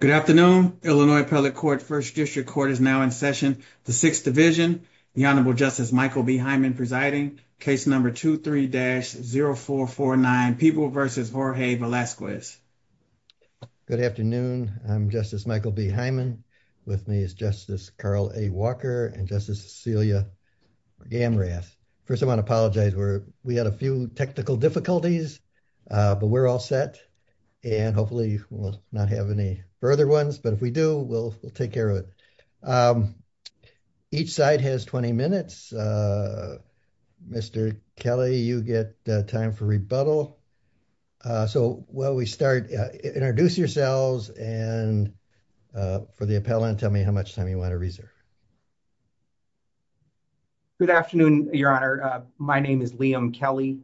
Good afternoon. Illinois Appellate Court First District Court is now in session. The Sixth Division, the Honorable Justice Michael B. Hyman presiding, case number 23-0449, Peeble v. Jorge Velazquez. Good afternoon. I'm Justice Michael B. Hyman. With me is Justice Carl A. Walker and Justice Cecilia Amras. First, I want to apologize. We had a few technical difficulties, but we're all set. And hopefully we'll not have any further ones. But if we do, we'll take care of it. Each side has 20 minutes. Mr. Kelly, you get time for rebuttal. So while we start, introduce yourselves and for the appellant, tell me how much time you want to reserve. Good afternoon, Your Honor. My name is Liam Kelly.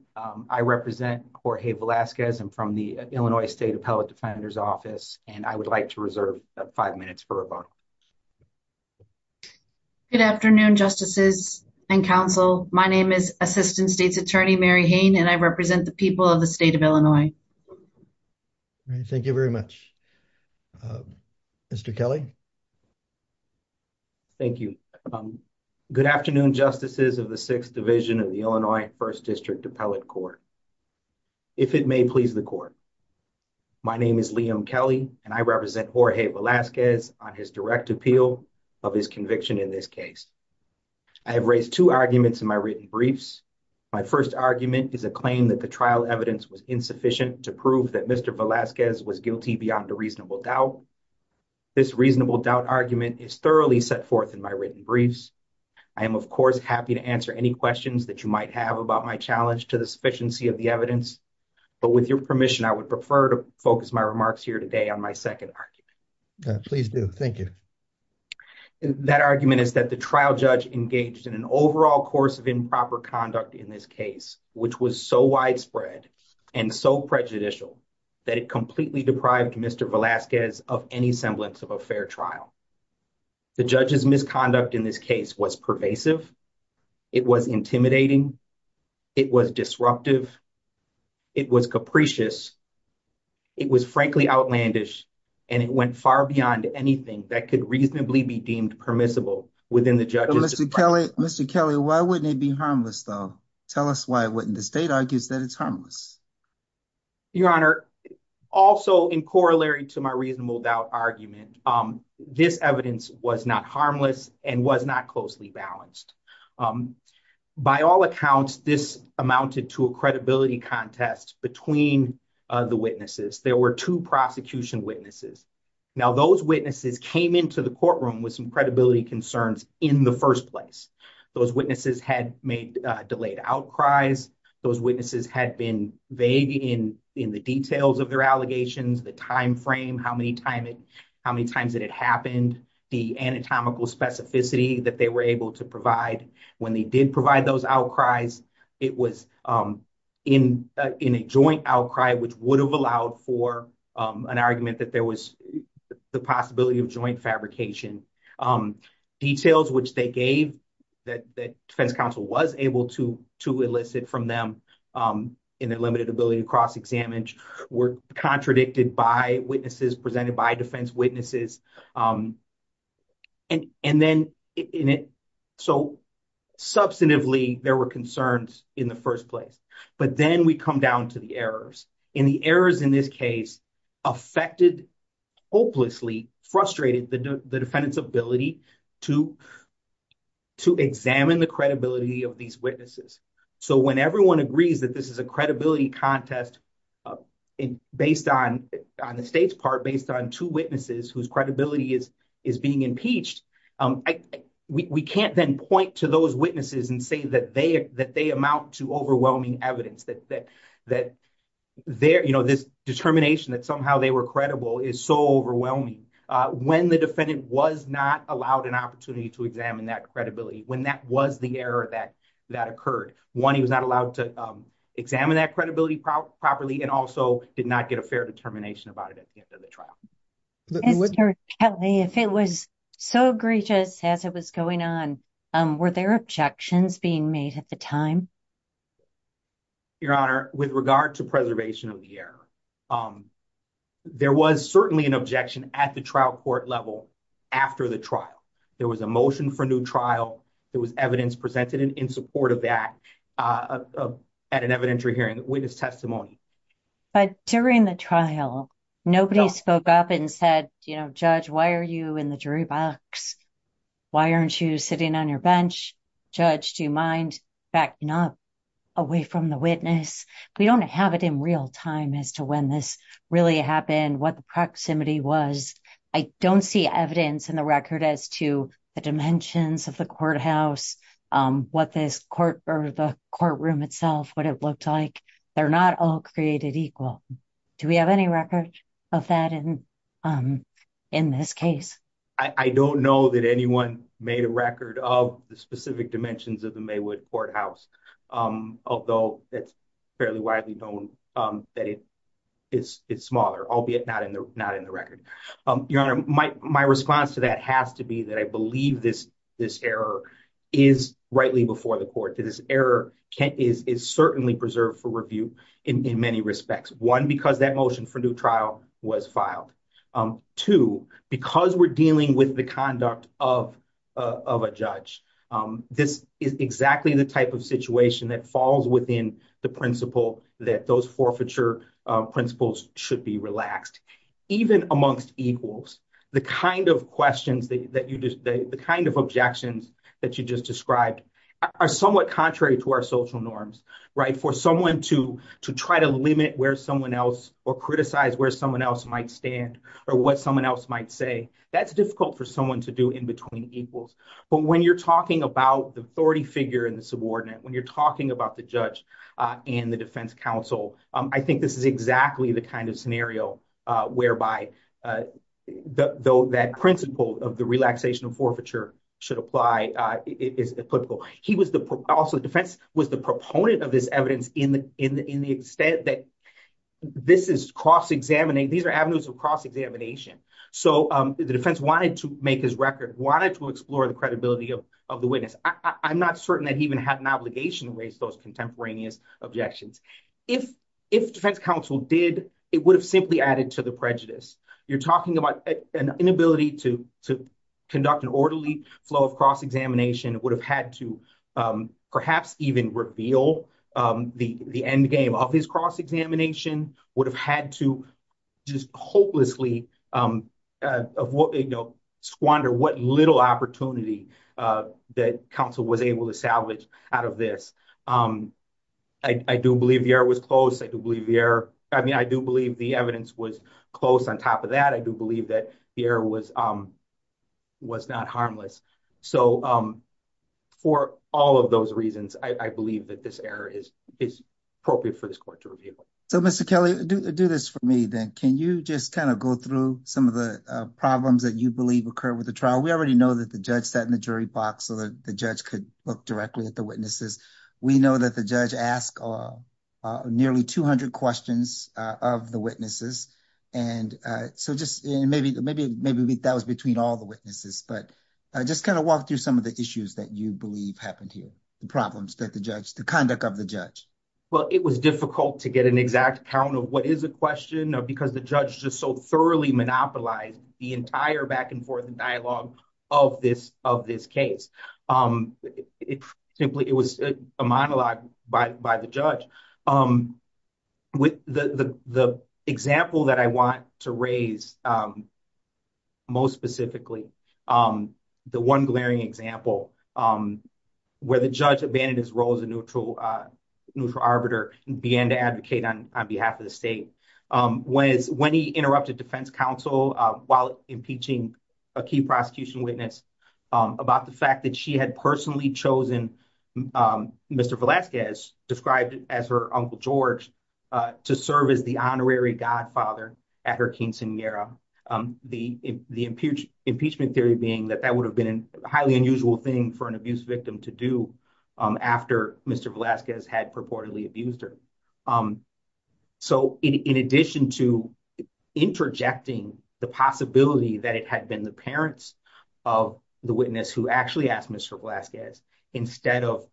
I represent Jorge Velazquez. I'm from the Illinois State Appellate Defender's Office, and I would like to reserve five minutes for rebuttal. Good afternoon, Justices and counsel. My name is Assistant State's Attorney Mary Hain, and I represent the people of the state of Illinois. Thank you very much. Mr. Kelly. Thank you. Good afternoon, Justices of the Sixth Division of the Illinois First District Appellate Court. If it may please the court. My name is Liam Kelly, and I represent Jorge Velazquez on his direct appeal of his conviction in this case. I have raised two arguments in my written briefs. My first argument is a claim that the trial evidence was insufficient to prove that Mr. Velazquez was guilty beyond a reasonable doubt. This reasonable doubt argument is thoroughly set forth in my written briefs. I am, of course, happy to answer any questions that you might have about my challenge to the sufficiency of the evidence. But with your permission, I would prefer to focus my remarks here today on my second argument. Please do. Thank you. That argument is that the trial judge engaged in an overall course of improper conduct in this case, which was so widespread and so prejudicial that it completely deprived Mr. Velazquez of any semblance of a fair trial. The judge's misconduct in this case was pervasive. It was intimidating. It was disruptive. It was capricious. It was frankly outlandish, and it went far beyond anything that could reasonably be deemed permissible within the judges. Mr. Kelly, Mr. Kelly, why wouldn't it be harmless, though? Tell us why it wouldn't. The state argues that it's harmless. Your Honor, also in corollary to my reasonable doubt argument, this evidence was not harmless and was not closely balanced. By all accounts, this amounted to a credibility contest between the witnesses. There were two prosecution witnesses. Now, those witnesses came into the courtroom with some credibility concerns in the first place. Those witnesses had made delayed outcries. Those witnesses had been vague in the details of their allegations, the time frame, how many times it had happened, the anatomical specificity that they were able to provide. When they did provide those outcries, it was in a joint outcry, which would have allowed for an argument that there was the possibility of joint fabrication. Details which they gave that the defense counsel was able to elicit from them in their limited ability to cross-examine were contradicted by witnesses, presented by defense witnesses. And then, so substantively, there were concerns in the first place. But then we come down to the errors. And the errors in this case affected, hopelessly frustrated the defendant's ability to examine the credibility of these witnesses. So when everyone agrees that this is a credibility contest based on the state's part, based on two witnesses whose credibility is being impeached, we can't then point to those witnesses and say that they amount to overwhelming evidence, that this determination that somehow they were credible is so overwhelming, when the defendant was not allowed an opportunity to examine that credibility, when that was the error that occurred. One, he was not allowed to examine that credibility properly and also did not get a fair determination about it at the end of the trial. Mr. Kelly, if it was so egregious as it was going on, were there objections being made at the time? Your Honor, with regard to preservation of the error, there was certainly an objection at the trial court level after the trial. There was a motion for a new trial. There was evidence presented in support of that at an evidentiary hearing with his testimony. But during the trial, nobody spoke up and said, you know, Judge, why are you in the jury box? Why aren't you sitting on your bench? Judge, do you mind backing up away from the witness? We don't have it in real time as to when this really happened, what the proximity was. I don't see evidence in the record as to the dimensions of the courthouse, what this court or the courtroom itself, what it looked like. They're not all created equal. Do we have any record of that in this case? I don't know that anyone made a record of the specific dimensions of the Maywood courthouse, although it's fairly widely known that it is smaller, albeit not in the record. Your Honor, my response to that has to be that I believe this error is rightly before the court. This error is certainly preserved for review in many respects. One, because that motion for new trial was filed. Two, because we're dealing with the conduct of a judge. This is exactly the type of situation that falls within the principle that those forfeiture principles should be relaxed. Even amongst equals, the kind of objections that you just described are somewhat contrary to our social norms. For someone to try to limit where someone else or criticize where someone else might stand or what someone else might say, that's difficult for someone to do in between equals. But when you're talking about the authority figure and the subordinate, when you're talking about the judge and the defense counsel, I think this is exactly the kind of scenario whereby that principle of the relaxation of forfeiture should apply is applicable. Also, the defense was the proponent of this evidence in the extent that this is cross-examining. These are avenues of cross-examination. So the defense wanted to make his record, wanted to explore the credibility of the witness. I'm not certain that he even had an obligation to raise those contemporaneous objections. If defense counsel did, it would have simply added to the prejudice. You're talking about an inability to conduct an orderly flow of cross-examination would have had to perhaps even reveal the endgame of his cross-examination, would have had to just hopelessly squander what little opportunity that counsel was able to salvage out of this. I do believe the error was close. I do believe the evidence was close on top of that. I do believe that the error was not harmless. So for all of those reasons, I believe that this error is appropriate for this court to reveal. So, Mr. Kelly, do this for me, then. Can you just kind of go through some of the problems that you believe occurred with the trial? We already know that the judge sat in the jury box so that the judge could look directly at the witnesses. We know that the judge asked nearly 200 questions of the witnesses. And so just maybe that was between all the witnesses. But just kind of walk through some of the issues that you believe happened here, the problems that the judge, the conduct of the judge. Well, it was difficult to get an exact count of what is a question because the judge just so thoroughly monopolized the entire back and forth and dialogue of this of this case. It simply it was a monologue by the judge. With the example that I want to raise. Most specifically, the one glaring example where the judge abandoned his role as a neutral neutral arbiter began to advocate on behalf of the state was when he interrupted defense counsel while impeaching a key prosecution witness about the fact that she had personally chosen. Mr. Velasquez described as her uncle George to serve as the honorary godfather at her quinceanera. The impeachment theory being that that would have been a highly unusual thing for an abuse victim to do after Mr. Velasquez had purportedly abused her. So, in addition to interjecting the possibility that it had been the parents of the witness who actually asked Mr. Velasquez instead of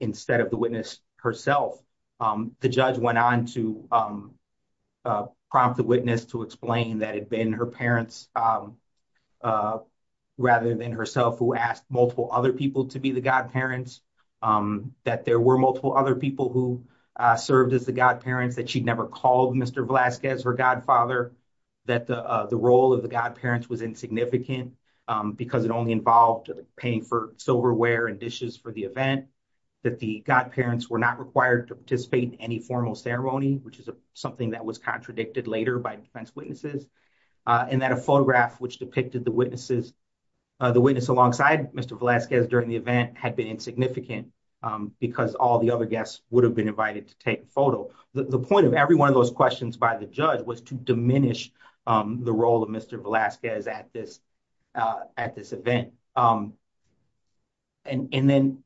instead of the witness herself, the judge went on to prompt the witness to explain that had been her parents. Rather than herself who asked multiple other people to be the godparents that there were multiple other people who served as the godparents that she'd never called Mr. Velasquez her godfather that the role of the godparents was insignificant because it only involved paying for silverware and dishes for the event that the godparents were not required to participate in any formal ceremony, which is something that was contradicted later by defense witnesses. And that a photograph which depicted the witnesses, the witness alongside Mr. Velasquez during the event had been insignificant because all the other guests would have been invited to take photo. The point of every one of those questions by the judge was to diminish the role of Mr. Velasquez at this at this event. And then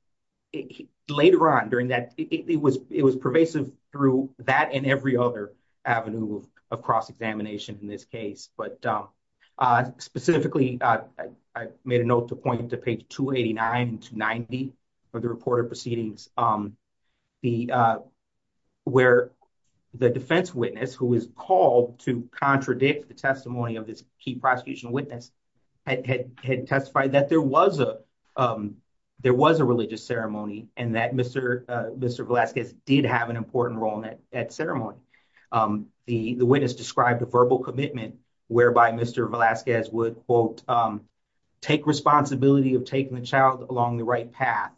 later on during that, it was it was pervasive through that and every other avenue of cross examination in this case. But specifically, I made a note to point to page 289 to 90 for the report of proceedings. The where the defense witness who is called to contradict the testimony of this key prosecution witness had testified that there was a there was a religious ceremony and that Mr. Mr. Velasquez did have an important role in that ceremony. The witness described a verbal commitment whereby Mr. Velasquez would, quote, take responsibility of taking the child along the right path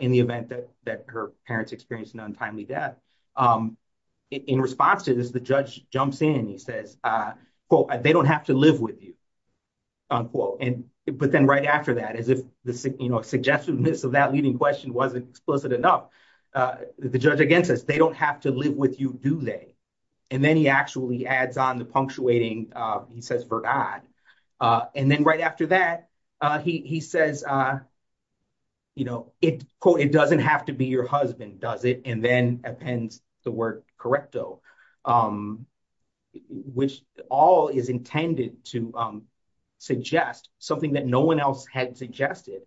in the event that that her parents experienced an untimely death. In response to this, the judge jumps in, he says, quote, they don't have to live with you. Unquote. But then right after that, as if the suggestiveness of that leading question wasn't explicit enough, the judge again says, they don't have to live with you, do they? And then he actually adds on the punctuating, he says, verdad. And then right after that, he says, you know, it, quote, it doesn't have to be your husband, does it? And then appends the word correcto. Which all is intended to suggest something that no one else had suggested,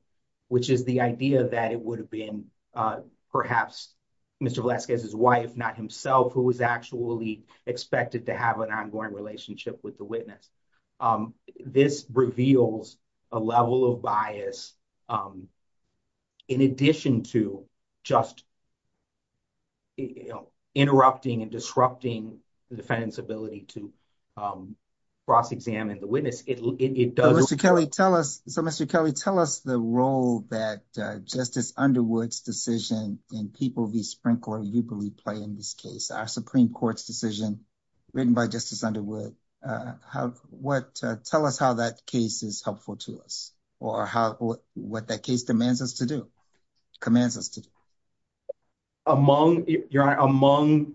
which is the idea that it would have been perhaps Mr. Velasquez's wife, not himself, who was actually expected to have an ongoing relationship with the witness. This reveals a level of bias in addition to just interrupting and disrupting the defendant's ability to cross examine the witness. Mr. Kelly, tell us. So, Mr. Kelly, tell us the role that Justice Underwood's decision in People v. Sprinkler, you believe, play in this case, our Supreme Court's decision written by Justice Underwood. Tell us how that case is helpful to us or what that case demands us to do, commands us to do. Your Honor, among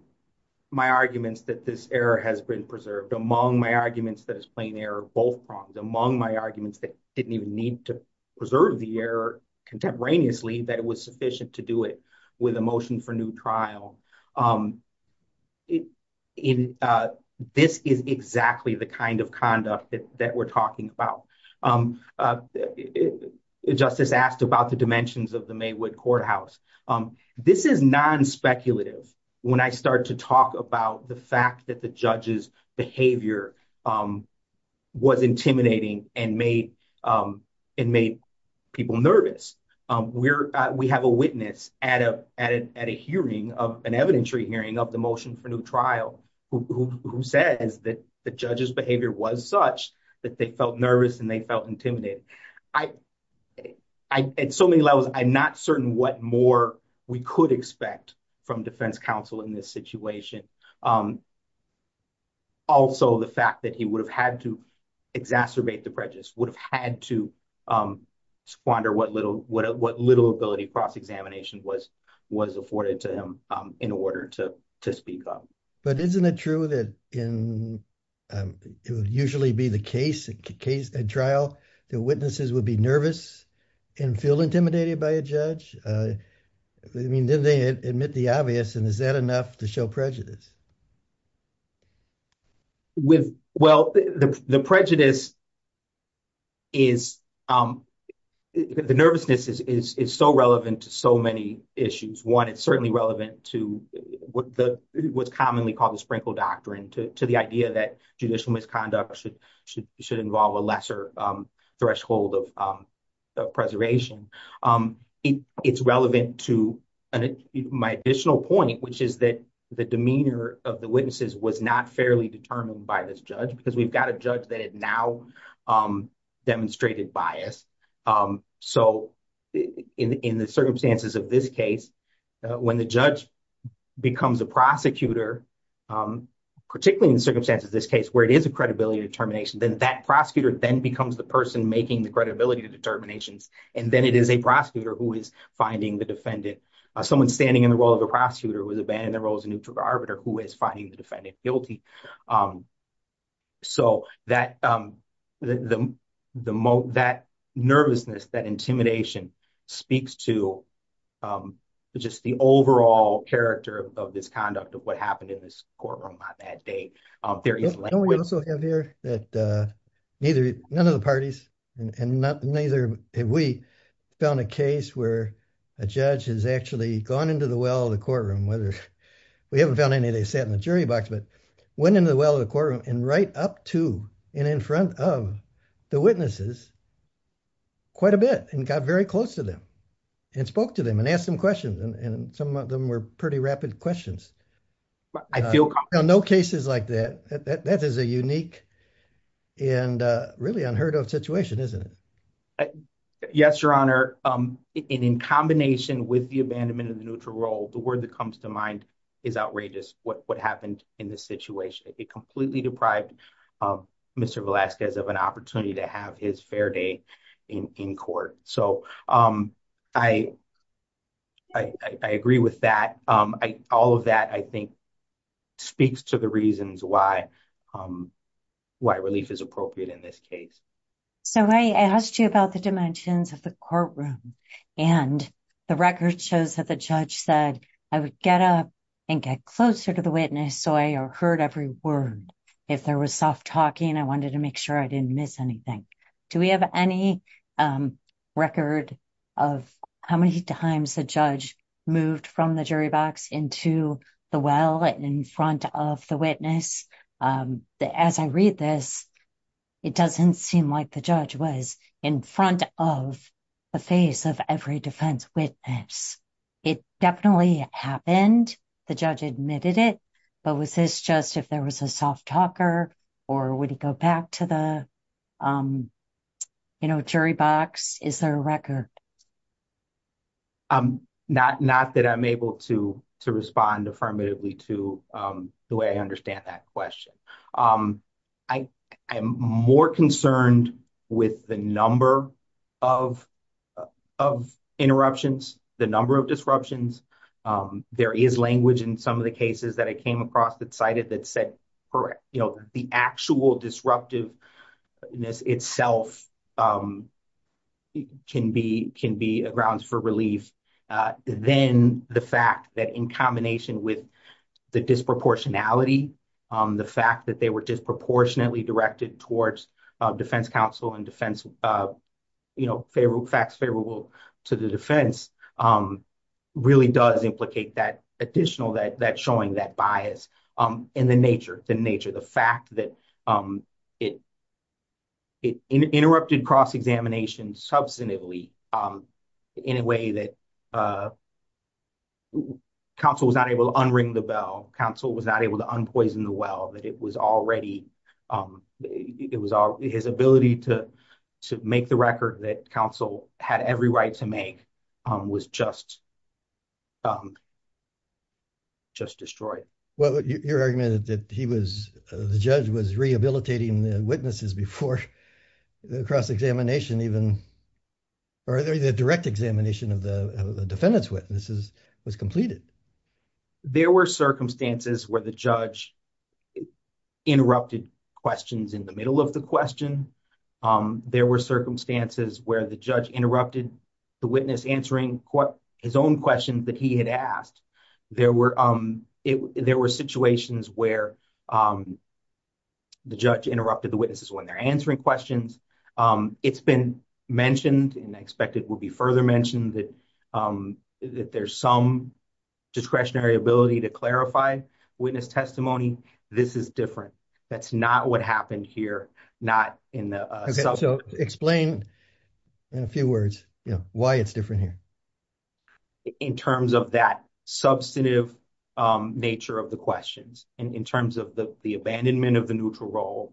my arguments that this error has been preserved, among my arguments that it's plain error, both prongs, among my arguments that didn't even need to preserve the error contemporaneously, that it was sufficient to do it with a motion for new trial. This is exactly the kind of conduct that we're talking about. Justice asked about the dimensions of the Maywood courthouse. This is non-speculative when I start to talk about the fact that the judge's behavior was intimidating and made people nervous. We have a witness at an evidentiary hearing of the motion for new trial who says that the judge's behavior was such that they felt nervous and they felt intimidated. At so many levels, I'm not certain what more we could expect from defense counsel in this situation. Also, the fact that he would have had to exacerbate the prejudice, would have had to squander what little ability cross-examination was afforded to him in order to speak up. But isn't it true that it would usually be the case at trial that witnesses would be nervous and feel intimidated by a judge? Didn't they admit the obvious, and is that enough to show prejudice? Well, the prejudice is, the nervousness is so relevant to so many issues. One, it's certainly relevant to what's commonly called the Sprinkle Doctrine, to the idea that judicial misconduct should involve a lesser threshold of preservation. It's relevant to my additional point, which is that the demeanor of the witnesses was not fairly determined by this judge, because we've got a judge that had now demonstrated bias. So in the circumstances of this case, when the judge becomes a prosecutor, particularly in the circumstances of this case where it is a credibility determination, then that prosecutor then becomes the person making the credibility determinations. And then it is a prosecutor who is finding the defendant. Someone standing in the role of a prosecutor who is abandoned the role as a neutral arbiter who is finding the defendant guilty. So that nervousness, that intimidation speaks to just the overall character of this conduct of what happened in this courtroom on that day. And we also have here that neither, none of the parties, and neither have we, found a case where a judge has actually gone into the well of the courtroom, whether, we haven't found any, they sat in the jury box, but went into the well of the courtroom and right up to and in front of the witnesses quite a bit and got very close to them and spoke to them and asked them questions. And some of them were pretty rapid questions. I feel comfortable. No cases like that. That is a unique and really unheard of situation, isn't it? Yes, Your Honor. And in combination with the abandonment of the neutral role, the word that comes to mind is outrageous what happened in this situation. It completely deprived Mr. Velazquez of an opportunity to have his fair day in court. So, I agree with that. All of that, I think, speaks to the reasons why relief is appropriate in this case. So, I asked you about the dimensions of the courtroom, and the record shows that the judge said, I would get up and get closer to the witness so I heard every word. If there was soft talking, I wanted to make sure I didn't miss anything. Do we have any record of how many times the judge moved from the jury box into the well in front of the witness? As I read this, it doesn't seem like the judge was in front of the face of every defense witness. It definitely happened. The judge admitted it. But was this just if there was a soft talker, or would it go back to the jury box? Is there a record? Not that I'm able to respond affirmatively to the way I understand that question. I am more concerned with the number of interruptions, the number of disruptions. There is language in some of the cases that I came across that cited that said, the actual disruptiveness itself can be a grounds for relief. Then, the fact that in combination with the disproportionality, the fact that they were disproportionately directed towards defense counsel and facts favorable to the defense, really does implicate that additional, that showing that bias in the nature. The fact that it interrupted cross-examination substantively in a way that counsel was not able to unring the bell. Counsel was not able to unpoison the well. His ability to make the record that counsel had every right to make was just destroyed. Your argument that the judge was rehabilitating the witnesses before the cross-examination even, or the direct examination of the defendant's witnesses was completed. There were circumstances where the judge interrupted questions in the middle of the question. There were circumstances where the judge interrupted the witness answering his own questions that he had asked. There were situations where the judge interrupted the witnesses when they're answering questions. It's been mentioned, and I expect it will be further mentioned, that there's some discretionary ability to clarify witness testimony. This is different. That's not what happened here. Explain in a few words why it's different here. In terms of that substantive nature of the questions, in terms of the abandonment of the neutral role,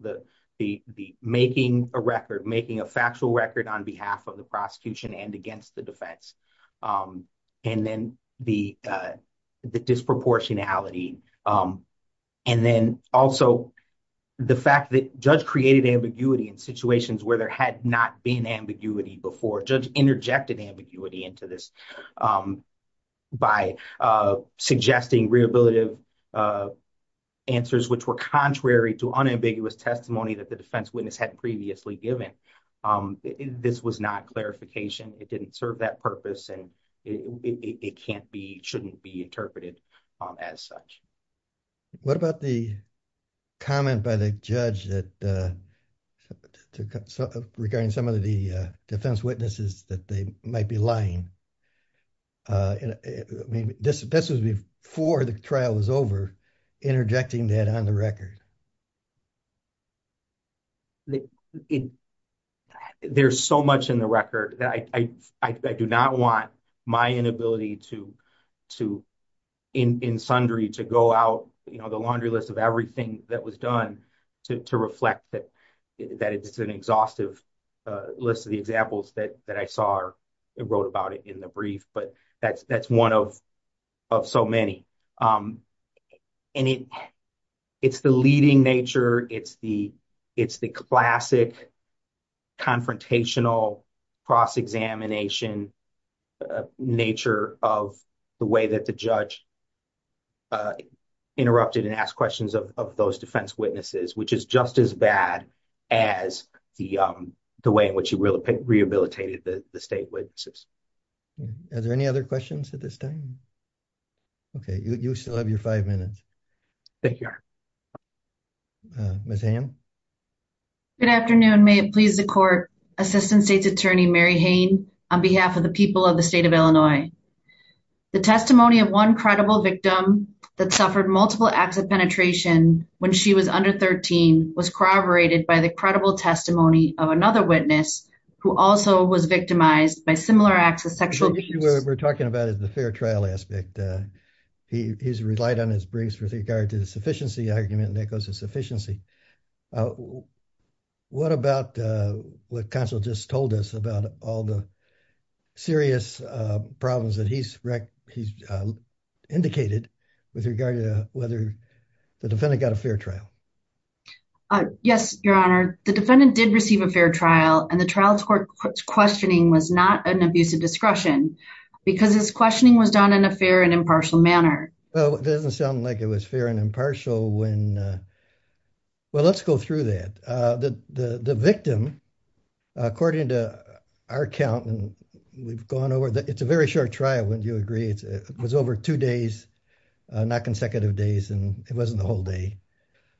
making a record, making a factual record on behalf of the prosecution and against the defense, and then the disproportionality. And then also the fact that judge created ambiguity in situations where there had not been ambiguity before. Judge interjected ambiguity into this by suggesting rehabilitative answers, which were contrary to unambiguous testimony that the defense witness had previously given. This was not clarification. It didn't serve that purpose, and it shouldn't be interpreted as such. What about the comment by the judge regarding some of the defense witnesses that they might be lying? This was before the trial was over, interjecting that on the record. There's so much in the record that I do not want my inability to, in sundry, to go out the laundry list of everything that was done to reflect that it's an exhaustive list of the examples that I saw or wrote about it in the brief, but that's one of so many. And it's the leading nature, it's the classic confrontational cross-examination nature of the way that the judge interrupted and asked questions of those defense witnesses, which is just as bad as the way in which he rehabilitated the state witnesses. Are there any other questions at this time? Okay, you still have your five minutes. Thank you. Ms. Hamm? Good afternoon. May it please the court, Assistant State's Attorney Mary Hain, on behalf of the people of the state of Illinois. The testimony of one credible victim that suffered multiple acts of penetration when she was under 13 was corroborated by the credible testimony of another witness who also was victimized by similar acts of sexual abuse. What we're talking about is the fair trial aspect. He's relied on his briefs with regard to the sufficiency argument, and that goes to sufficiency. What about what counsel just told us about all the serious problems that he's indicated with regard to whether the defendant got a fair trial? Yes, Your Honor. The defendant did receive a fair trial, and the trial court's questioning was not an abuse of discretion because his questioning was done in a fair and impartial manner. Well, it doesn't sound like it was fair and impartial when... Well, let's go through that. The victim, according to our count, and we've gone over... It's a very short trial, wouldn't you agree? It was over two days, not consecutive days, and it wasn't the whole day,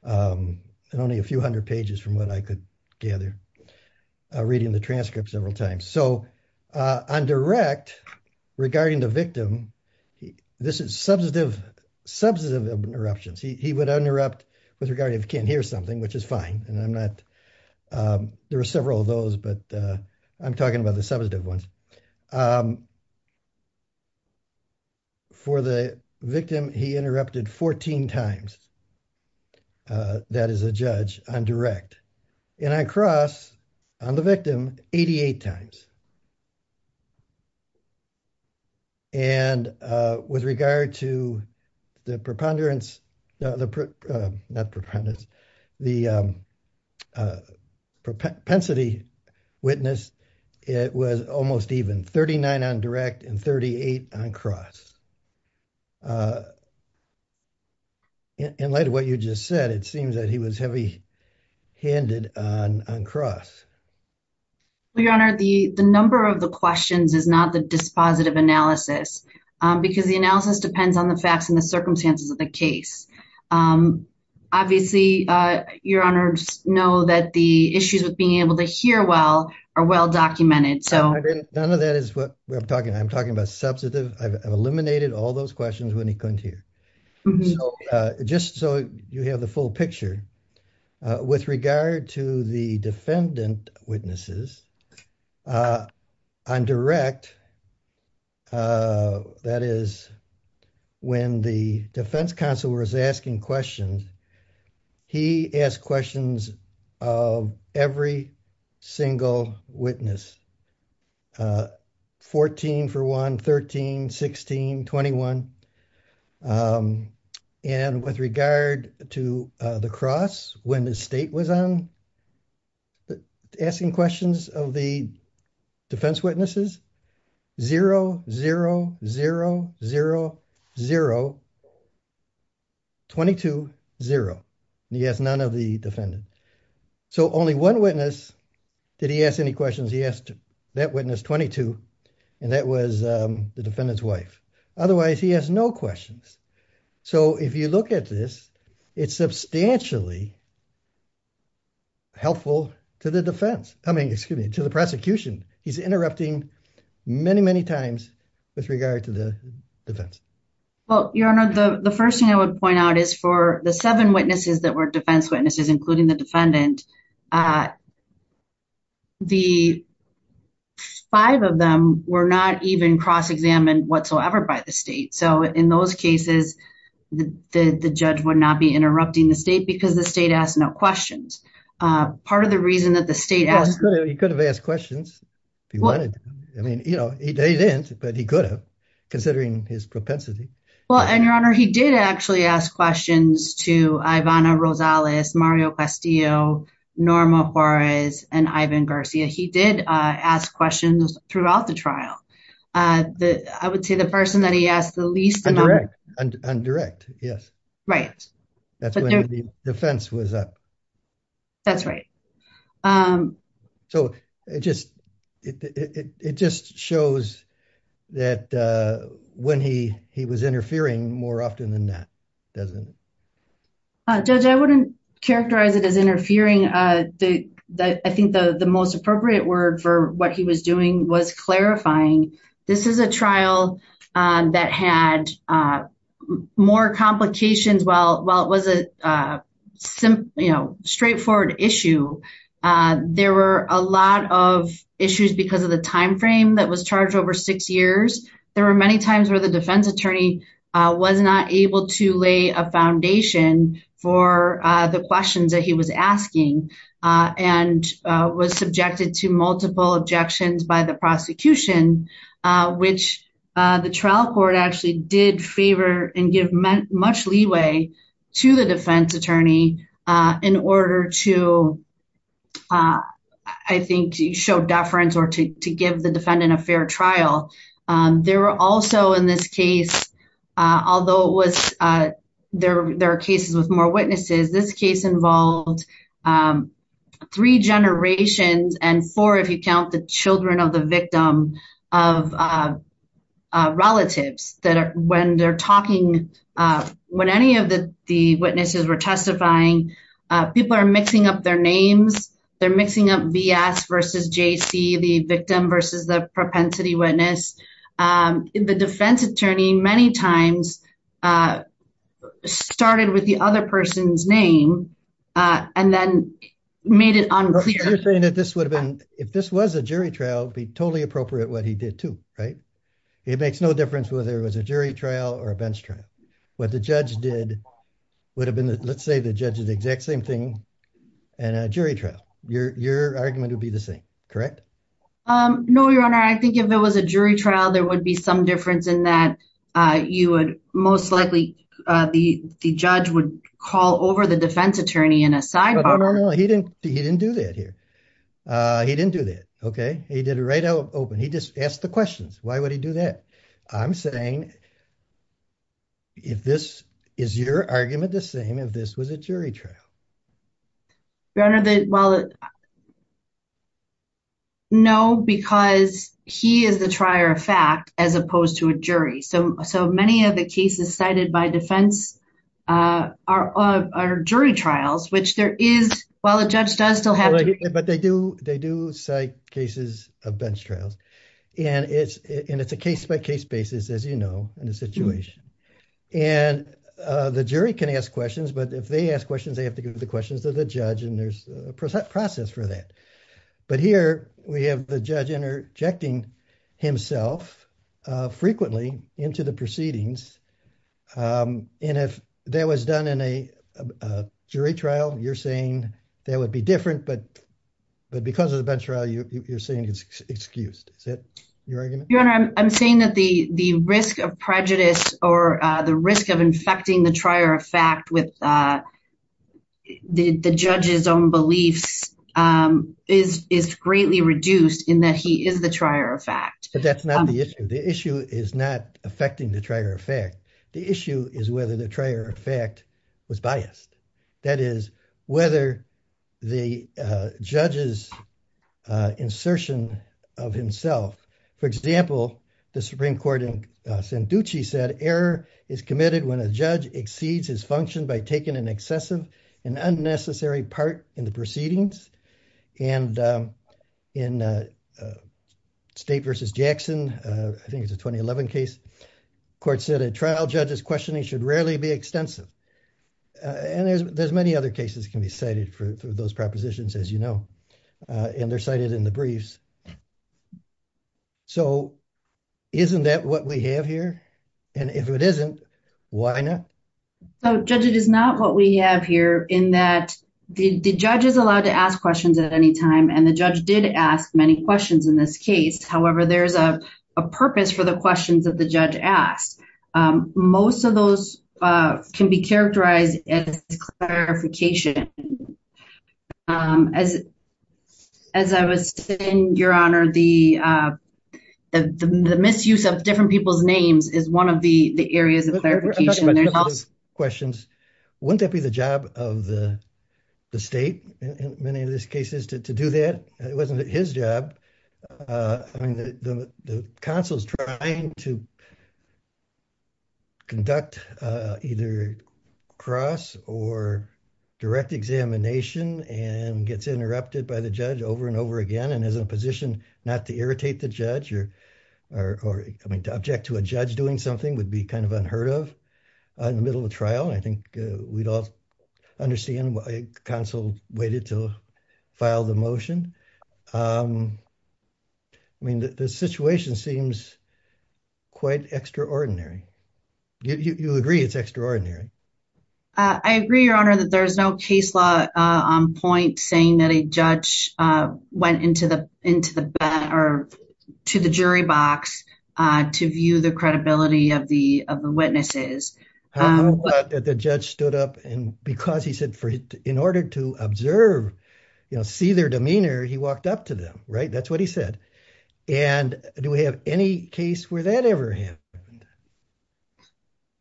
and only a few hundred pages from what I could gather, reading the transcript several times. So, on direct, regarding the victim, this is substantive interruptions. He would interrupt with regard if he can't hear something, which is fine, and I'm not... There were several of those, but I'm talking about the substantive ones. For the victim, he interrupted 14 times. That is a judge on direct, and I cross on the victim 88 times. And with regard to the preponderance... Not preponderance, the propensity witness, it was almost even, 39 on direct and 38 on cross. In light of what you just said, it seems that he was heavy-handed on cross. Well, Your Honor, the number of the questions is not the dispositive analysis, because the analysis depends on the facts and the circumstances of the case. Obviously, Your Honor, just know that the issues with being able to hear well are well-documented, so... None of that is what I'm talking about. I'm talking about substantive. I've eliminated all those questions when he couldn't hear. Just so you have the full picture, with regard to the defendant witnesses, on direct, that is, when the defense counsel was asking questions, he asked questions of every single witness. 14 for 1, 13, 16, 21. And with regard to the cross, when the state was asking questions of the defense witnesses, 0, 0, 0, 0, 0, 22, 0. He asked none of the defendants. So only one witness did he ask any questions. He asked that witness 22, and that was the defendant's wife. Otherwise, he has no questions. So if you look at this, it's substantially helpful to the defense. I mean, excuse me, to the prosecution. He's interrupting many, many times with regard to the defense. Well, Your Honor, the first thing I would point out is for the seven witnesses that were defense witnesses, including the defendant, the five of them were not even cross-examined whatsoever by the state. So in those cases, the judge would not be interrupting the state because the state asked no questions. Part of the reason that the state asked... I mean, you know, he didn't, but he could have, considering his propensity. Well, and Your Honor, he did actually ask questions to Ivana Rosales, Mario Castillo, Norma Juarez, and Ivan Garcia. He did ask questions throughout the trial. I would say the person that he asked the least... Undirect, yes. That's when the defense was up. That's right. So it just shows that when he was interfering more often than not, doesn't it? Judge, I wouldn't characterize it as interfering. I think the most appropriate word for what he was doing was clarifying. This is a trial that had more complications while it was a straightforward issue. There were a lot of issues because of the timeframe that was charged over six years. There were many times where the defense attorney was not able to lay a foundation for the questions that he was asking and was subjected to multiple objections by the prosecution, which the trial court actually did favor and give much leeway to the defense attorney in order to, I think, show deference or to give the defendant a fair trial. There were also, in this case, although there are cases with more witnesses, this case involved three generations and four, if you count the children of the victim, of relatives. When any of the witnesses were testifying, people are mixing up their names. They're mixing up V.S. versus J.C., the victim versus the propensity witness. The defense attorney many times started with the other person's name and then made it unclear. You're saying that if this was a jury trial, it would be totally appropriate what he did, too, right? It makes no difference whether it was a jury trial or a bench trial. What the judge did would have been, let's say, the judge did the exact same thing in a jury trial. Your argument would be the same, correct? No, Your Honor. I think if it was a jury trial, there would be some difference in that most likely the judge would call over the defense attorney in a sidebar. No, no, no. He didn't do that here. He didn't do that. He did it right out open. He just asked the questions. Why would he do that? I'm saying, is your argument the same if this was a jury trial? Your Honor, well, no, because he is the trier of fact as opposed to a jury. So many of the cases cited by defense are jury trials, which there is, well, a judge does still have to... But they do cite cases of bench trials. And it's a case-by-case basis, as you know, in a situation. And the jury can ask questions, but if they ask questions, they have to give the questions to the judge. And there's a process for that. But here we have the judge interjecting himself frequently into the proceedings. And if that was done in a jury trial, you're saying that would be different, but because of the bench trial, you're saying it's excused. Is that your argument? Your Honor, I'm saying that the risk of prejudice or the risk of infecting the trier of fact with the judge's own beliefs is greatly reduced in that he is the trier of fact. But that's not the issue. The issue is not affecting the trier of fact. The issue is whether the trier of fact was biased. That is, whether the judge's insertion of himself... For example, the Supreme Court in Sanducci said, error is committed when a judge exceeds his function by taking an excessive and unnecessary part in the proceedings. And in State v. Jackson, I think it's a 2011 case, the court said, a trial judge's questioning should rarely be extensive. And there's many other cases can be cited for those propositions, as you know, and they're cited in the briefs. So isn't that what we have here? And if it isn't, why not? Judge, it is not what we have here in that the judge is allowed to ask questions at any time. And the judge did ask many questions in this case. However, there's a purpose for the questions that the judge asked. Most of those can be characterized as clarification. As I was saying, Your Honor, the misuse of different people's names is one of the areas of clarification. Wouldn't that be the job of the state in many of these cases to do that? It wasn't his job. I mean, the counsel's trying to conduct either cross or direct examination and gets interrupted by the judge over and over again. And as a position not to irritate the judge or to object to a judge doing something would be kind of unheard of in the middle of a trial. I think we'd all understand why counsel waited to file the motion. I mean, the situation seems quite extraordinary. You agree it's extraordinary. I agree, Your Honor, that there is no case law on point saying that a judge went into the jury box to view the credibility of the witnesses. The judge stood up and because he said in order to observe, see their demeanor, he walked up to them. Right. That's what he said. And do we have any case where that ever happened?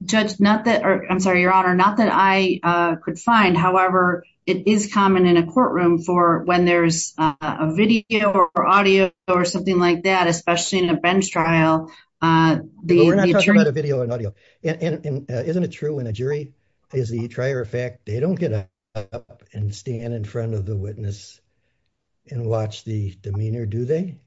Judge, not that I'm sorry, Your Honor, not that I could find. However, it is common in a courtroom for when there's a video or audio or something like that, especially in a bench trial. We're not talking about a video and audio. And isn't it true when a jury is the trier of fact, they don't get up and stand in front of the witness and watch the demeanor, do they?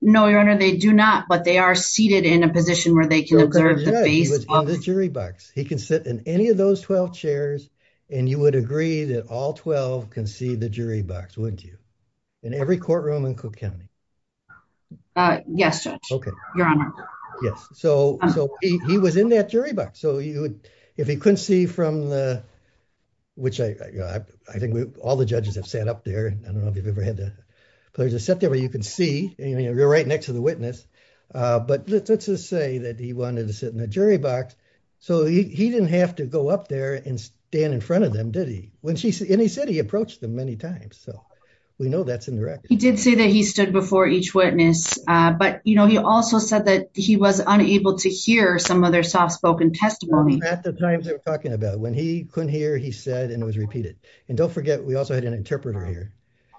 No, Your Honor, they do not. But they are seated in a position where they can observe the face of the jury box. He can sit in any of those 12 chairs and you would agree that all 12 can see the jury box, wouldn't you? In every courtroom in Cook County. Yes, Your Honor. Yes. So he was in that jury box. So if he couldn't see from the, which I think all the judges have sat up there. I don't know if you've ever had to sit there where you can see you're right next to the witness. But let's just say that he wanted to sit in the jury box. So he didn't have to go up there and stand in front of them, did he? And he said he approached them many times. So we know that's indirect. He did say that he stood before each witness. But, you know, he also said that he was unable to hear some of their soft spoken testimony. At the times they were talking about. When he couldn't hear, he said and it was repeated. And don't forget, we also had an interpreter here.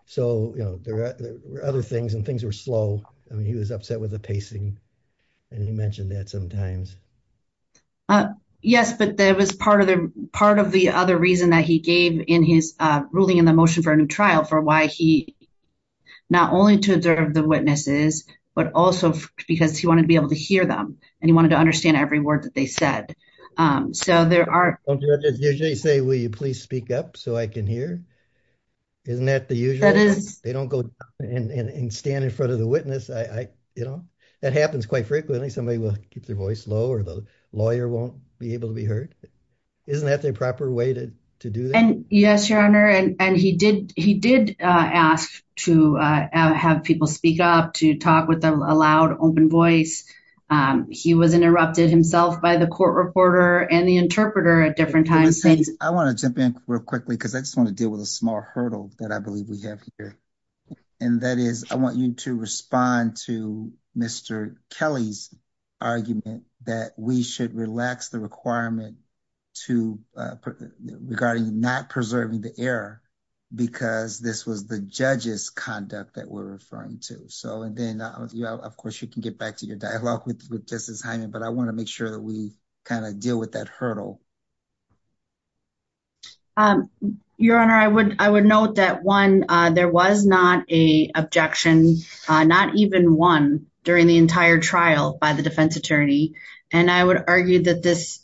So, you know, there were other things and things were slow. I mean, he was upset with the pacing. And he mentioned that sometimes. Yes, but that was part of the part of the other reason that he gave in his ruling in the motion for a new trial for why he not only to observe the witnesses, but also because he wanted to be able to hear them and he wanted to understand every word that they said. So there are usually say, will you please speak up so I can hear? Isn't that the usual? They don't go and stand in front of the witness. I, you know, that happens quite frequently. Somebody will keep their voice low or the lawyer won't be able to be heard. Isn't that the proper way to do? And yes, your honor. And he did. He did ask to have people speak up to talk with a loud, open voice. He was interrupted himself by the court reporter and the interpreter at different times. I want to jump in real quickly because I just want to deal with a small hurdle that I believe we have here. And that is, I want you to respond to Mr. Kelly's argument that we should relax the requirement. To regarding not preserving the air. Because this was the judges conduct that we're referring to. So, and then, of course, you can get back to your dialogue with with this assignment, but I want to make sure that we kind of deal with that hurdle. Your honor, I would, I would note that one, there was not a objection, not even one during the entire trial by the defense attorney. And I would argue that this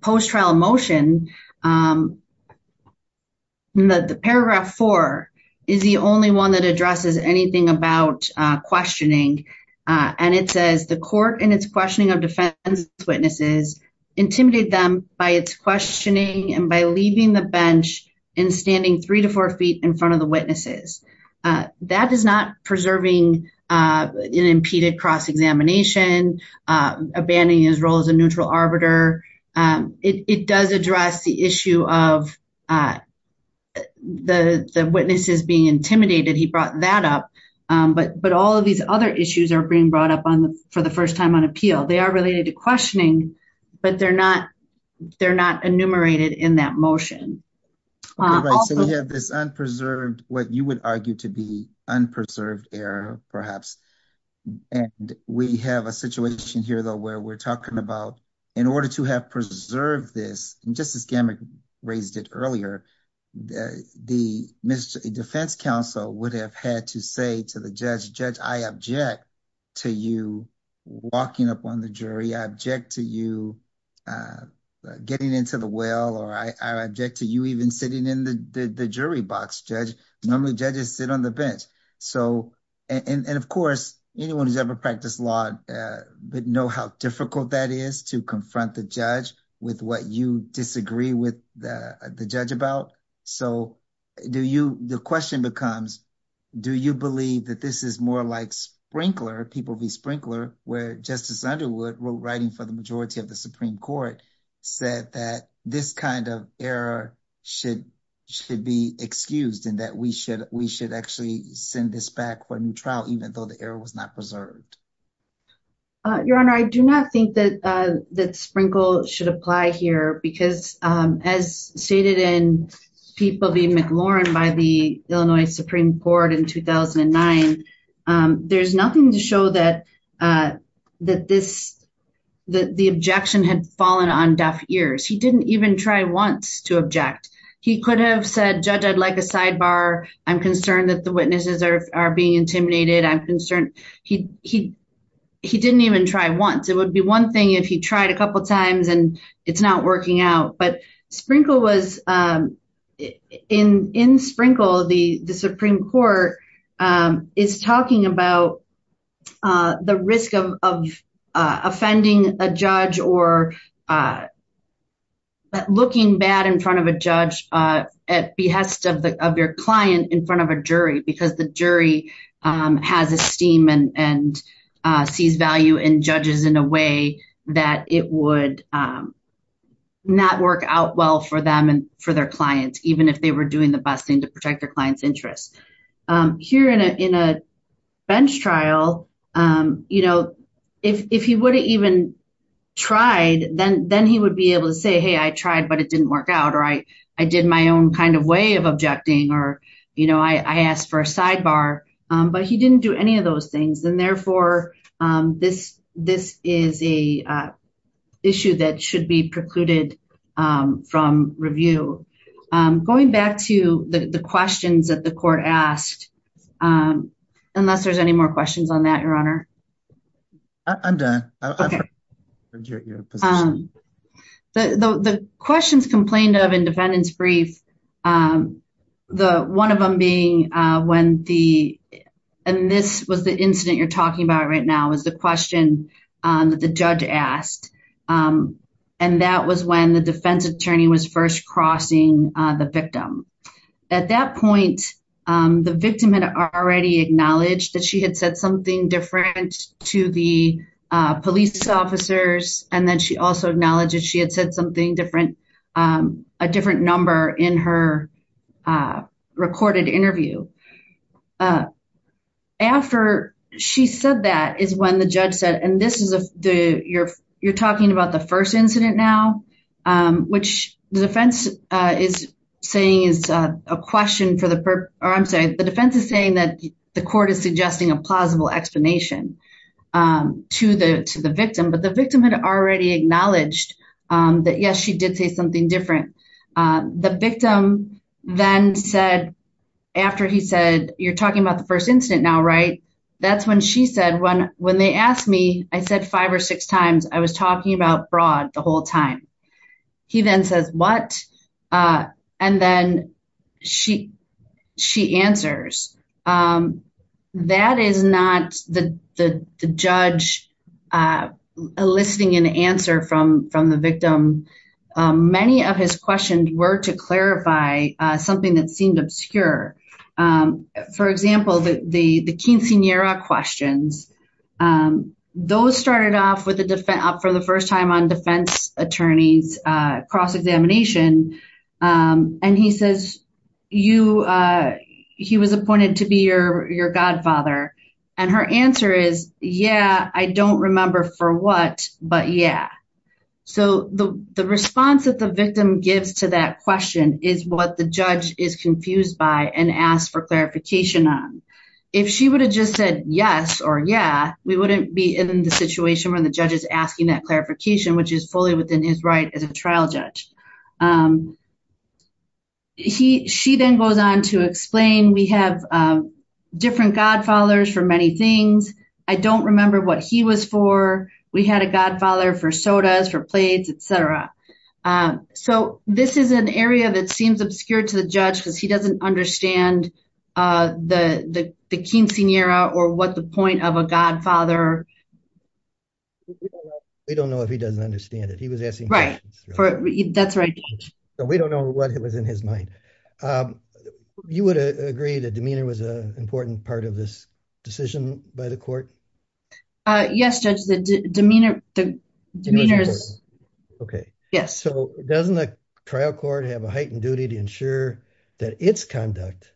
post trial motion. The paragraph 4 is the only one that addresses anything about questioning and it says the court and it's questioning of defense witnesses, intimidate them by its questioning and by leaving the bench and standing 3 to 4 feet in front of the witnesses. That is not preserving an impeded cross examination abandoning his role as a neutral arbiter. It does address the issue of the witnesses being intimidated. He brought that up, but but all of these other issues are being brought up on for the 1st time on appeal. They are related to questioning, but they're not. They're not enumerated in that motion. So, we have this unpreserved what you would argue to be unpreserved error, perhaps. And we have a situation here, though, where we're talking about in order to have preserved this and just as gamma raised it earlier. The defense counsel would have had to say to the judge judge, I object to you walking up on the jury object to you getting into the well, or I object to you even sitting in the jury box judge. Normally judges sit on the bench. So, and of course, anyone who's ever practiced law, but know how difficult that is to confront the judge with what you disagree with the judge about. So, do you the question becomes, do you believe that this is more like sprinkler people be sprinkler where justice Underwood wrote writing for the majority of the Supreme Court said that this kind of error should should be excused and that we should we should actually send this back when trial, even though the air was not preserved. Your Honor, I do not think that that sprinkle should apply here because, as stated in people being McLaurin by the Illinois Supreme Court in 2009. There's nothing to show that, that this, that the objection had fallen on deaf ears. He didn't even try once to object. He could have said judge I'd like a sidebar. I'm concerned that the witnesses are being intimidated I'm concerned, he, he, he didn't even try once it would be one thing if he tried a couple times and it's not working out but sprinkle was in in sprinkle the Supreme Court is talking about the risk of offending a judge or Looking bad in front of a judge at behest of the of your client in front of a jury, because the jury has esteem and sees value in judges in a way that it would Not work out well for them and for their clients, even if they were doing the best thing to protect their clients interest here in a in a bench trial. You know, if he would have even tried then then he would be able to say, hey, I tried, but it didn't work out right. I did my own kind of way of objecting or, you know, I asked for a sidebar, but he didn't do any of those things. And therefore, this, this is a issue that should be precluded from review. Going back to the questions that the court asked Unless there's any more questions on that, Your Honor. I'm done. The questions complained of independence brief. The one of them being when the and this was the incident you're talking about right now is the question that the judge asked. And that was when the defense attorney was first crossing the victim at that point. The victim had already acknowledged that she had said something different to the police officers and then she also acknowledged that she had said something different. A different number in her Recorded interview. After she said that is when the judge said, and this is the you're you're talking about the first incident now, which the defense is saying is a question for the purpose. I'm saying the defense is saying that the court is suggesting a plausible explanation. To the to the victim, but the victim had already acknowledged that. Yes, she did say something different. The victim then said after he said you're talking about the first incident. Now, right. That's when she said when when they asked me, I said five or six times I was talking about broad the whole time. He then says what And then she she answers. That is not the the judge. Eliciting an answer from from the victim. Many of his questions were to clarify something that seemed obscure. For example, the the the quinceanera questions. Those started off with the defense up for the first time on defense attorneys cross examination and he says you He was appointed to be your, your godfather and her answer is, yeah, I don't remember for what but yeah So the, the response that the victim gives to that question is what the judge is confused by and ask for clarification on if she would have just said yes or yeah we wouldn't be in the situation where the judges asking that clarification, which is fully within his right as a trial judge. He she then goes on to explain, we have different godfathers for many things. I don't remember what he was for. We had a godfather for sodas for plates, etc. So this is an area that seems obscure to the judge because he doesn't understand the quinceanera or what the point of a godfather We don't know if he doesn't understand it. He was asking. Right. That's right. So we don't know what it was in his mind. You would agree that demeanor was a important part of this decision by the court. Yes, judge the demeanor. Okay. Yes. So doesn't the trial court have a heightened duty to ensure that its conduct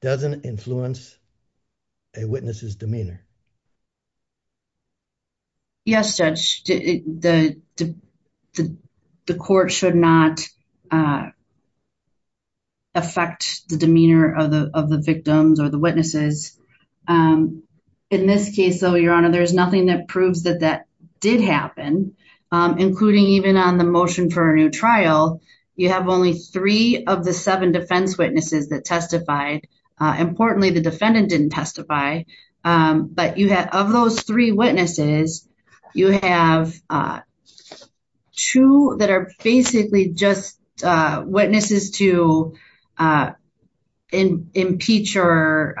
doesn't influence a witnesses demeanor. Yes, judge. The, the, the court should not affect the demeanor of the of the victims or the witnesses. In this case, though, Your Honor, there's nothing that proves that that did happen, including even on the motion for a new trial, you have only three of the seven defense witnesses that testified. Importantly, the defendant didn't testify. But you have of those three witnesses, you have Two that are basically just witnesses to Impeach or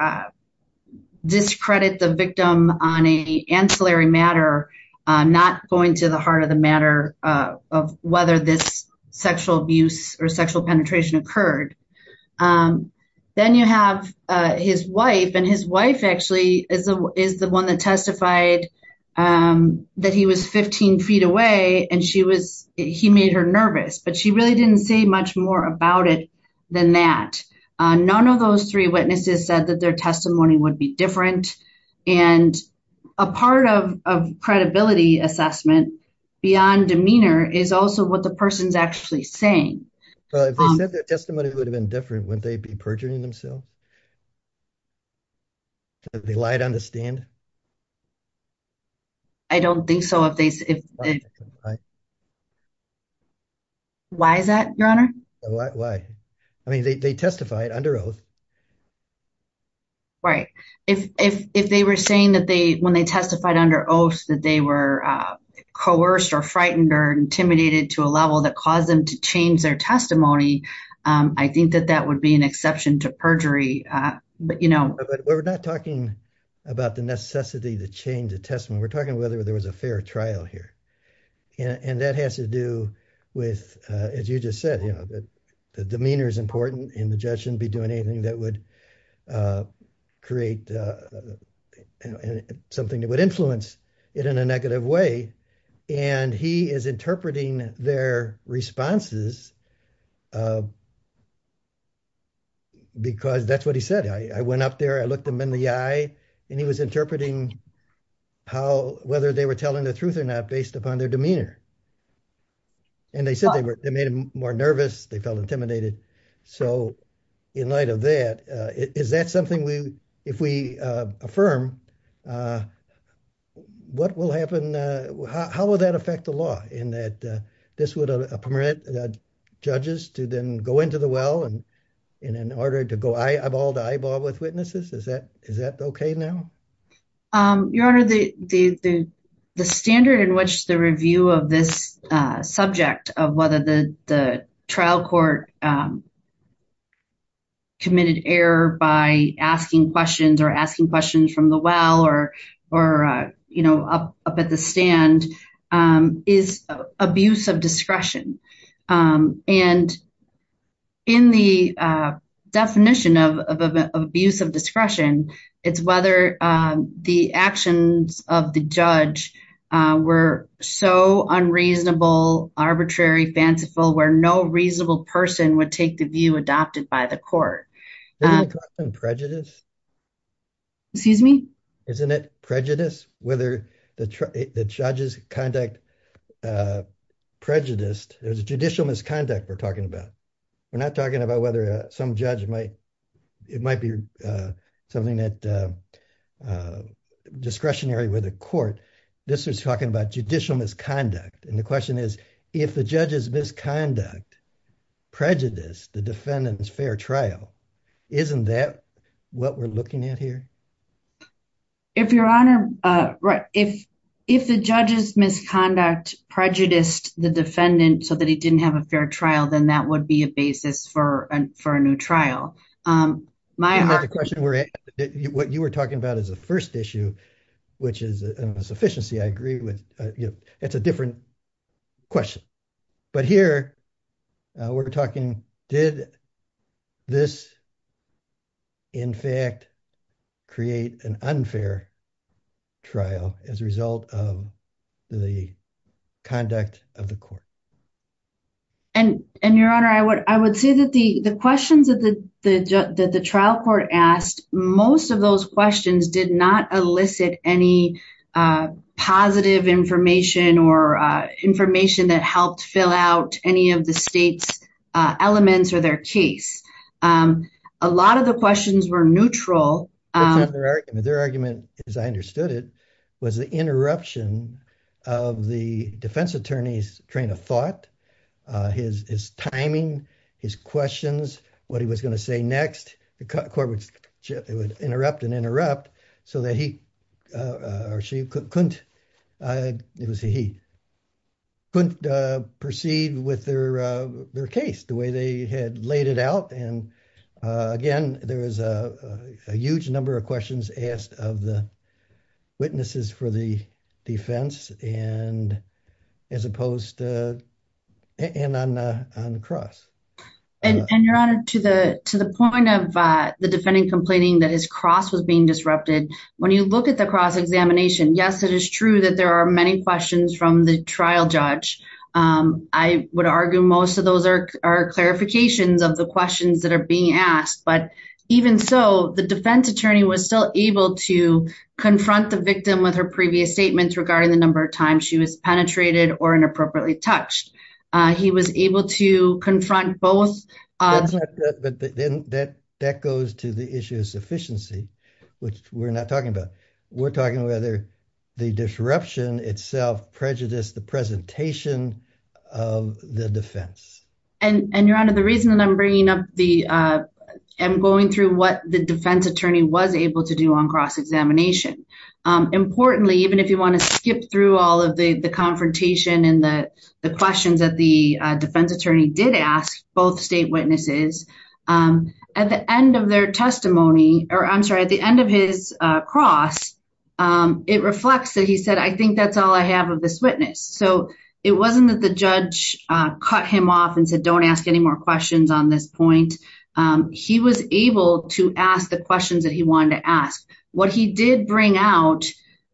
discredit the victim on a ancillary matter not going to the heart of the matter of whether this sexual abuse or sexual penetration occurred. Then you have his wife and his wife actually is the is the one that testified. That he was 15 feet away and she was he made her nervous, but she really didn't say much more about it than that. None of those three witnesses said that their testimony would be different and a part of credibility assessment beyond demeanor is also what the person's actually saying Testimony would have been different when they be perjuring themselves. They lied on the stand. I don't think so. If they Why is that, Your Honor. I mean, they testified under oath. Right, if, if, if they were saying that they when they testified under oath that they were coerced or frightened or intimidated to a level that caused them to change their testimony. I think that that would be an exception to perjury. But, you know, We're not talking about the necessity to change the testimony. We're talking whether there was a fair trial here. And that has to do with, as you just said, you know, that the demeanor is important in the judge shouldn't be doing anything that would Create Something that would influence it in a negative way. And he is interpreting their responses. Because that's what he said, I went up there. I looked him in the eye and he was interpreting how whether they were telling the truth or not, based upon their demeanor. And they said they were made more nervous. They felt intimidated. So in light of that, is that something we if we affirm What will happen. How would that affect the law in that this would permit judges to then go into the well and in order to go eyeball to eyeball with witnesses. Is that, is that okay now. Your Honor, the, the, the standard in which the review of this subject of whether the trial court Committed error by asking questions or asking questions from the well or or, you know, up, up at the stand is abuse of discretion. And in the definition of abuse of discretion. It's whether the actions of the judge were so unreasonable arbitrary fanciful where no reasonable person would take the view adopted by the court. Prejudice Excuse me. Isn't it prejudice, whether the judges conduct Prejudice there's a judicial misconduct. We're talking about. We're not talking about whether some judge might it might be something that Discretionary with a court. This is talking about judicial misconduct. And the question is, if the judges misconduct prejudice the defendants fair trial. Isn't that what we're looking at here. If your honor right if if the judges misconduct prejudiced the defendant, so that he didn't have a fair trial, then that would be a basis for and for a new trial. My question, where You were talking about is the first issue, which is a sufficiency. I agree with you. It's a different question. But here we're talking did this In fact, create an unfair trial as a result of the conduct of the court. And, and your honor, I would, I would say that the the questions that the that the trial court asked. Most of those questions did not elicit any Positive information or information that helped fill out any of the state's elements or their case. A lot of the questions were neutral. Their argument is, I understood it was the interruption of the defense attorneys train of thought his his timing his questions, what he was going to say next, the corporate ship, it would interrupt and interrupt so that he Couldn't It was he Couldn't proceed with their, their case, the way they had laid it out. And again, there was a huge number of questions asked of the witnesses for the defense and as opposed to and on on cross And your honor to the to the point of the defending complaining that his cross was being disrupted. When you look at the cross examination. Yes, it is true that there are many questions from the trial judge I would argue, most of those are are clarifications of the questions that are being asked. But even so, the defense attorney was still able to Confront the victim with her previous statements regarding the number of times she was penetrated or inappropriately touched. He was able to confront both But then that that goes to the issue of sufficiency, which we're not talking about. We're talking whether the disruption itself prejudice the presentation of the defense. And and you're under the reason that I'm bringing up the I'm going through what the defense attorney was able to do on cross examination. Importantly, even if you want to skip through all of the the confrontation and the questions that the defense attorney did ask both state witnesses. At the end of their testimony, or I'm sorry, at the end of his cross. It reflects that he said, I think that's all I have of this witness. So it wasn't that the judge cut him off and said, don't ask any more questions on this point. He was able to ask the questions that he wanted to ask what he did bring out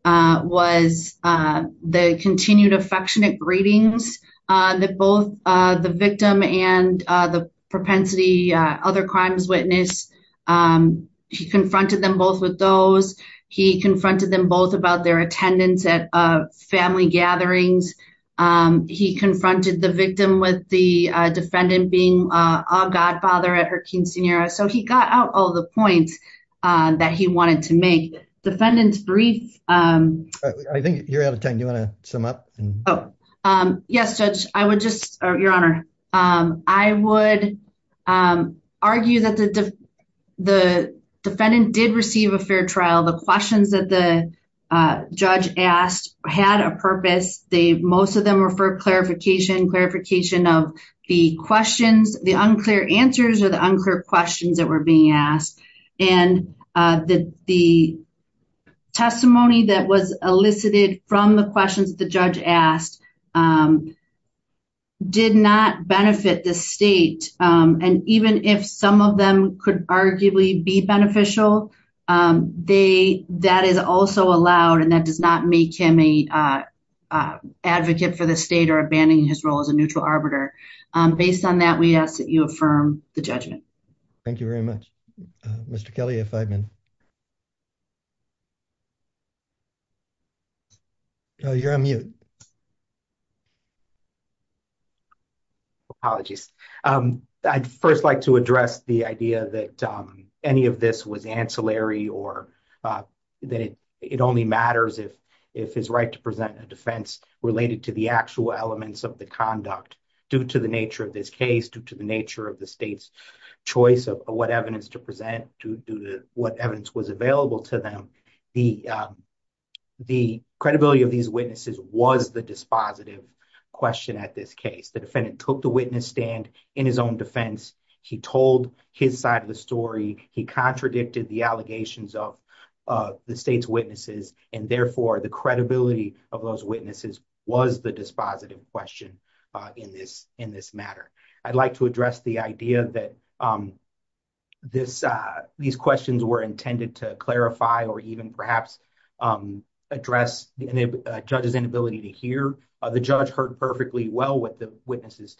was the continued affectionate greetings that both the victim and the propensity other crimes witness He confronted them both with those he confronted them both about their attendance at a family gatherings. He confronted the victim with the defendant being a godfather at her King senior. So he got out all the points that he wanted to make defendants brief. I think you're out of time. You want to sum up. Yes, I would just, Your Honor. I would argue that the defendant did receive a fair trial the questions that the judge asked had a purpose, they most of them were for clarification clarification of the questions, the unclear answers or the unclear questions that were being asked. And the, the testimony that was elicited from the questions the judge asked Did not benefit the state. And even if some of them could arguably be beneficial they that is also allowed and that does not make him a Advocate for the state or abandoning his role as a neutral arbiter based on that we ask that you affirm the judgment. Thank you very much, Mr. Kelly, if I've been You're on mute. Apologies. I'd first like to address the idea that any of this was ancillary or That it, it only matters if if his right to present a defense related to the actual elements of the conduct due to the nature of this case due to the nature of the state's choice of what evidence to present to do what evidence was available to them, the The credibility of these witnesses was the dispositive question at this case, the defendant took the witness stand in his own defense. He told his side of the story. He contradicted the allegations of The state's witnesses and therefore the credibility of those witnesses was the dispositive question in this in this matter. I'd like to address the idea that This these questions were intended to clarify or even perhaps Address the judges inability to hear the judge heard perfectly well with the witnesses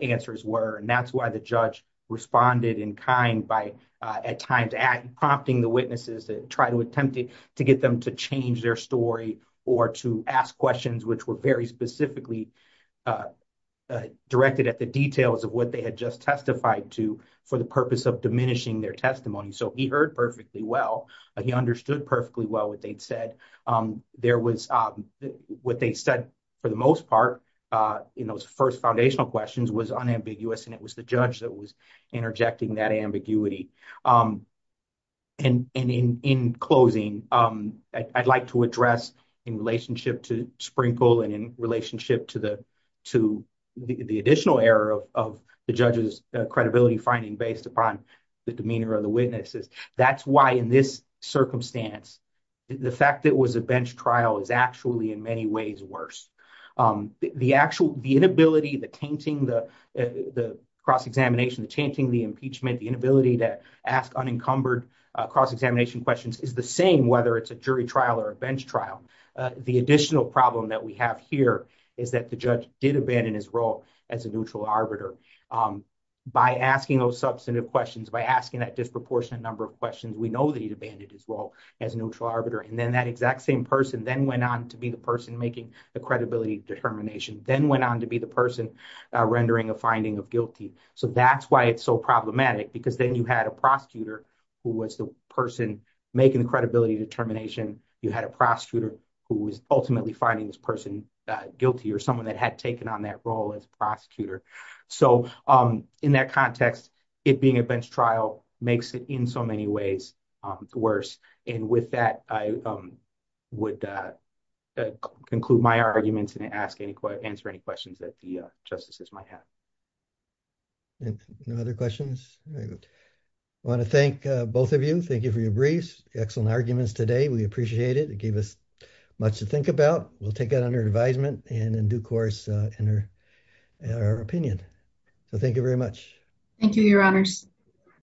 answers were and that's why the judge responded in kind by at times at prompting the witnesses to try to attempt to get them to change their story or to ask questions which were very specifically Directed at the details of what they had just testified to for the purpose of diminishing their testimony. So he heard perfectly well he understood perfectly well what they'd said. There was what they said for the most part in those first foundational questions was unambiguous and it was the judge that was interjecting that ambiguity. And in closing, I'd like to address in relationship to Sprinkle and in relationship to the to the additional error of the judges credibility finding based upon The demeanor of the witnesses. That's why in this circumstance, the fact that was a bench trial is actually in many ways worse. The actual the inability the tainting the the cross examination the chanting the impeachment, the inability to ask unencumbered cross examination questions is the same, whether it's a jury trial or a bench trial. The additional problem that we have here is that the judge did abandon his role as a neutral arbiter. By asking those substantive questions by asking that disproportionate number of questions. We know that he abandoned as well as neutral arbiter and then that exact same person then went on to be the person making the credibility determination then went on to be the person. Rendering a finding of guilty. So that's why it's so problematic because then you had a prosecutor who was the person making the credibility determination. You had a prosecutor who was ultimately finding this person guilty or someone that had taken on that role as prosecutor. So in that context, it being a bench trial makes it in so many ways worse. And with that, I would Conclude my arguments and ask any questions, answer any questions that the justices might have No other questions. Want to thank both of you. Thank you for your briefs excellent arguments today. We appreciate it. It gave us much to think about. We'll take it under advisement and in due course in our, in our opinion. So thank you very much. Thank you, Your Honors.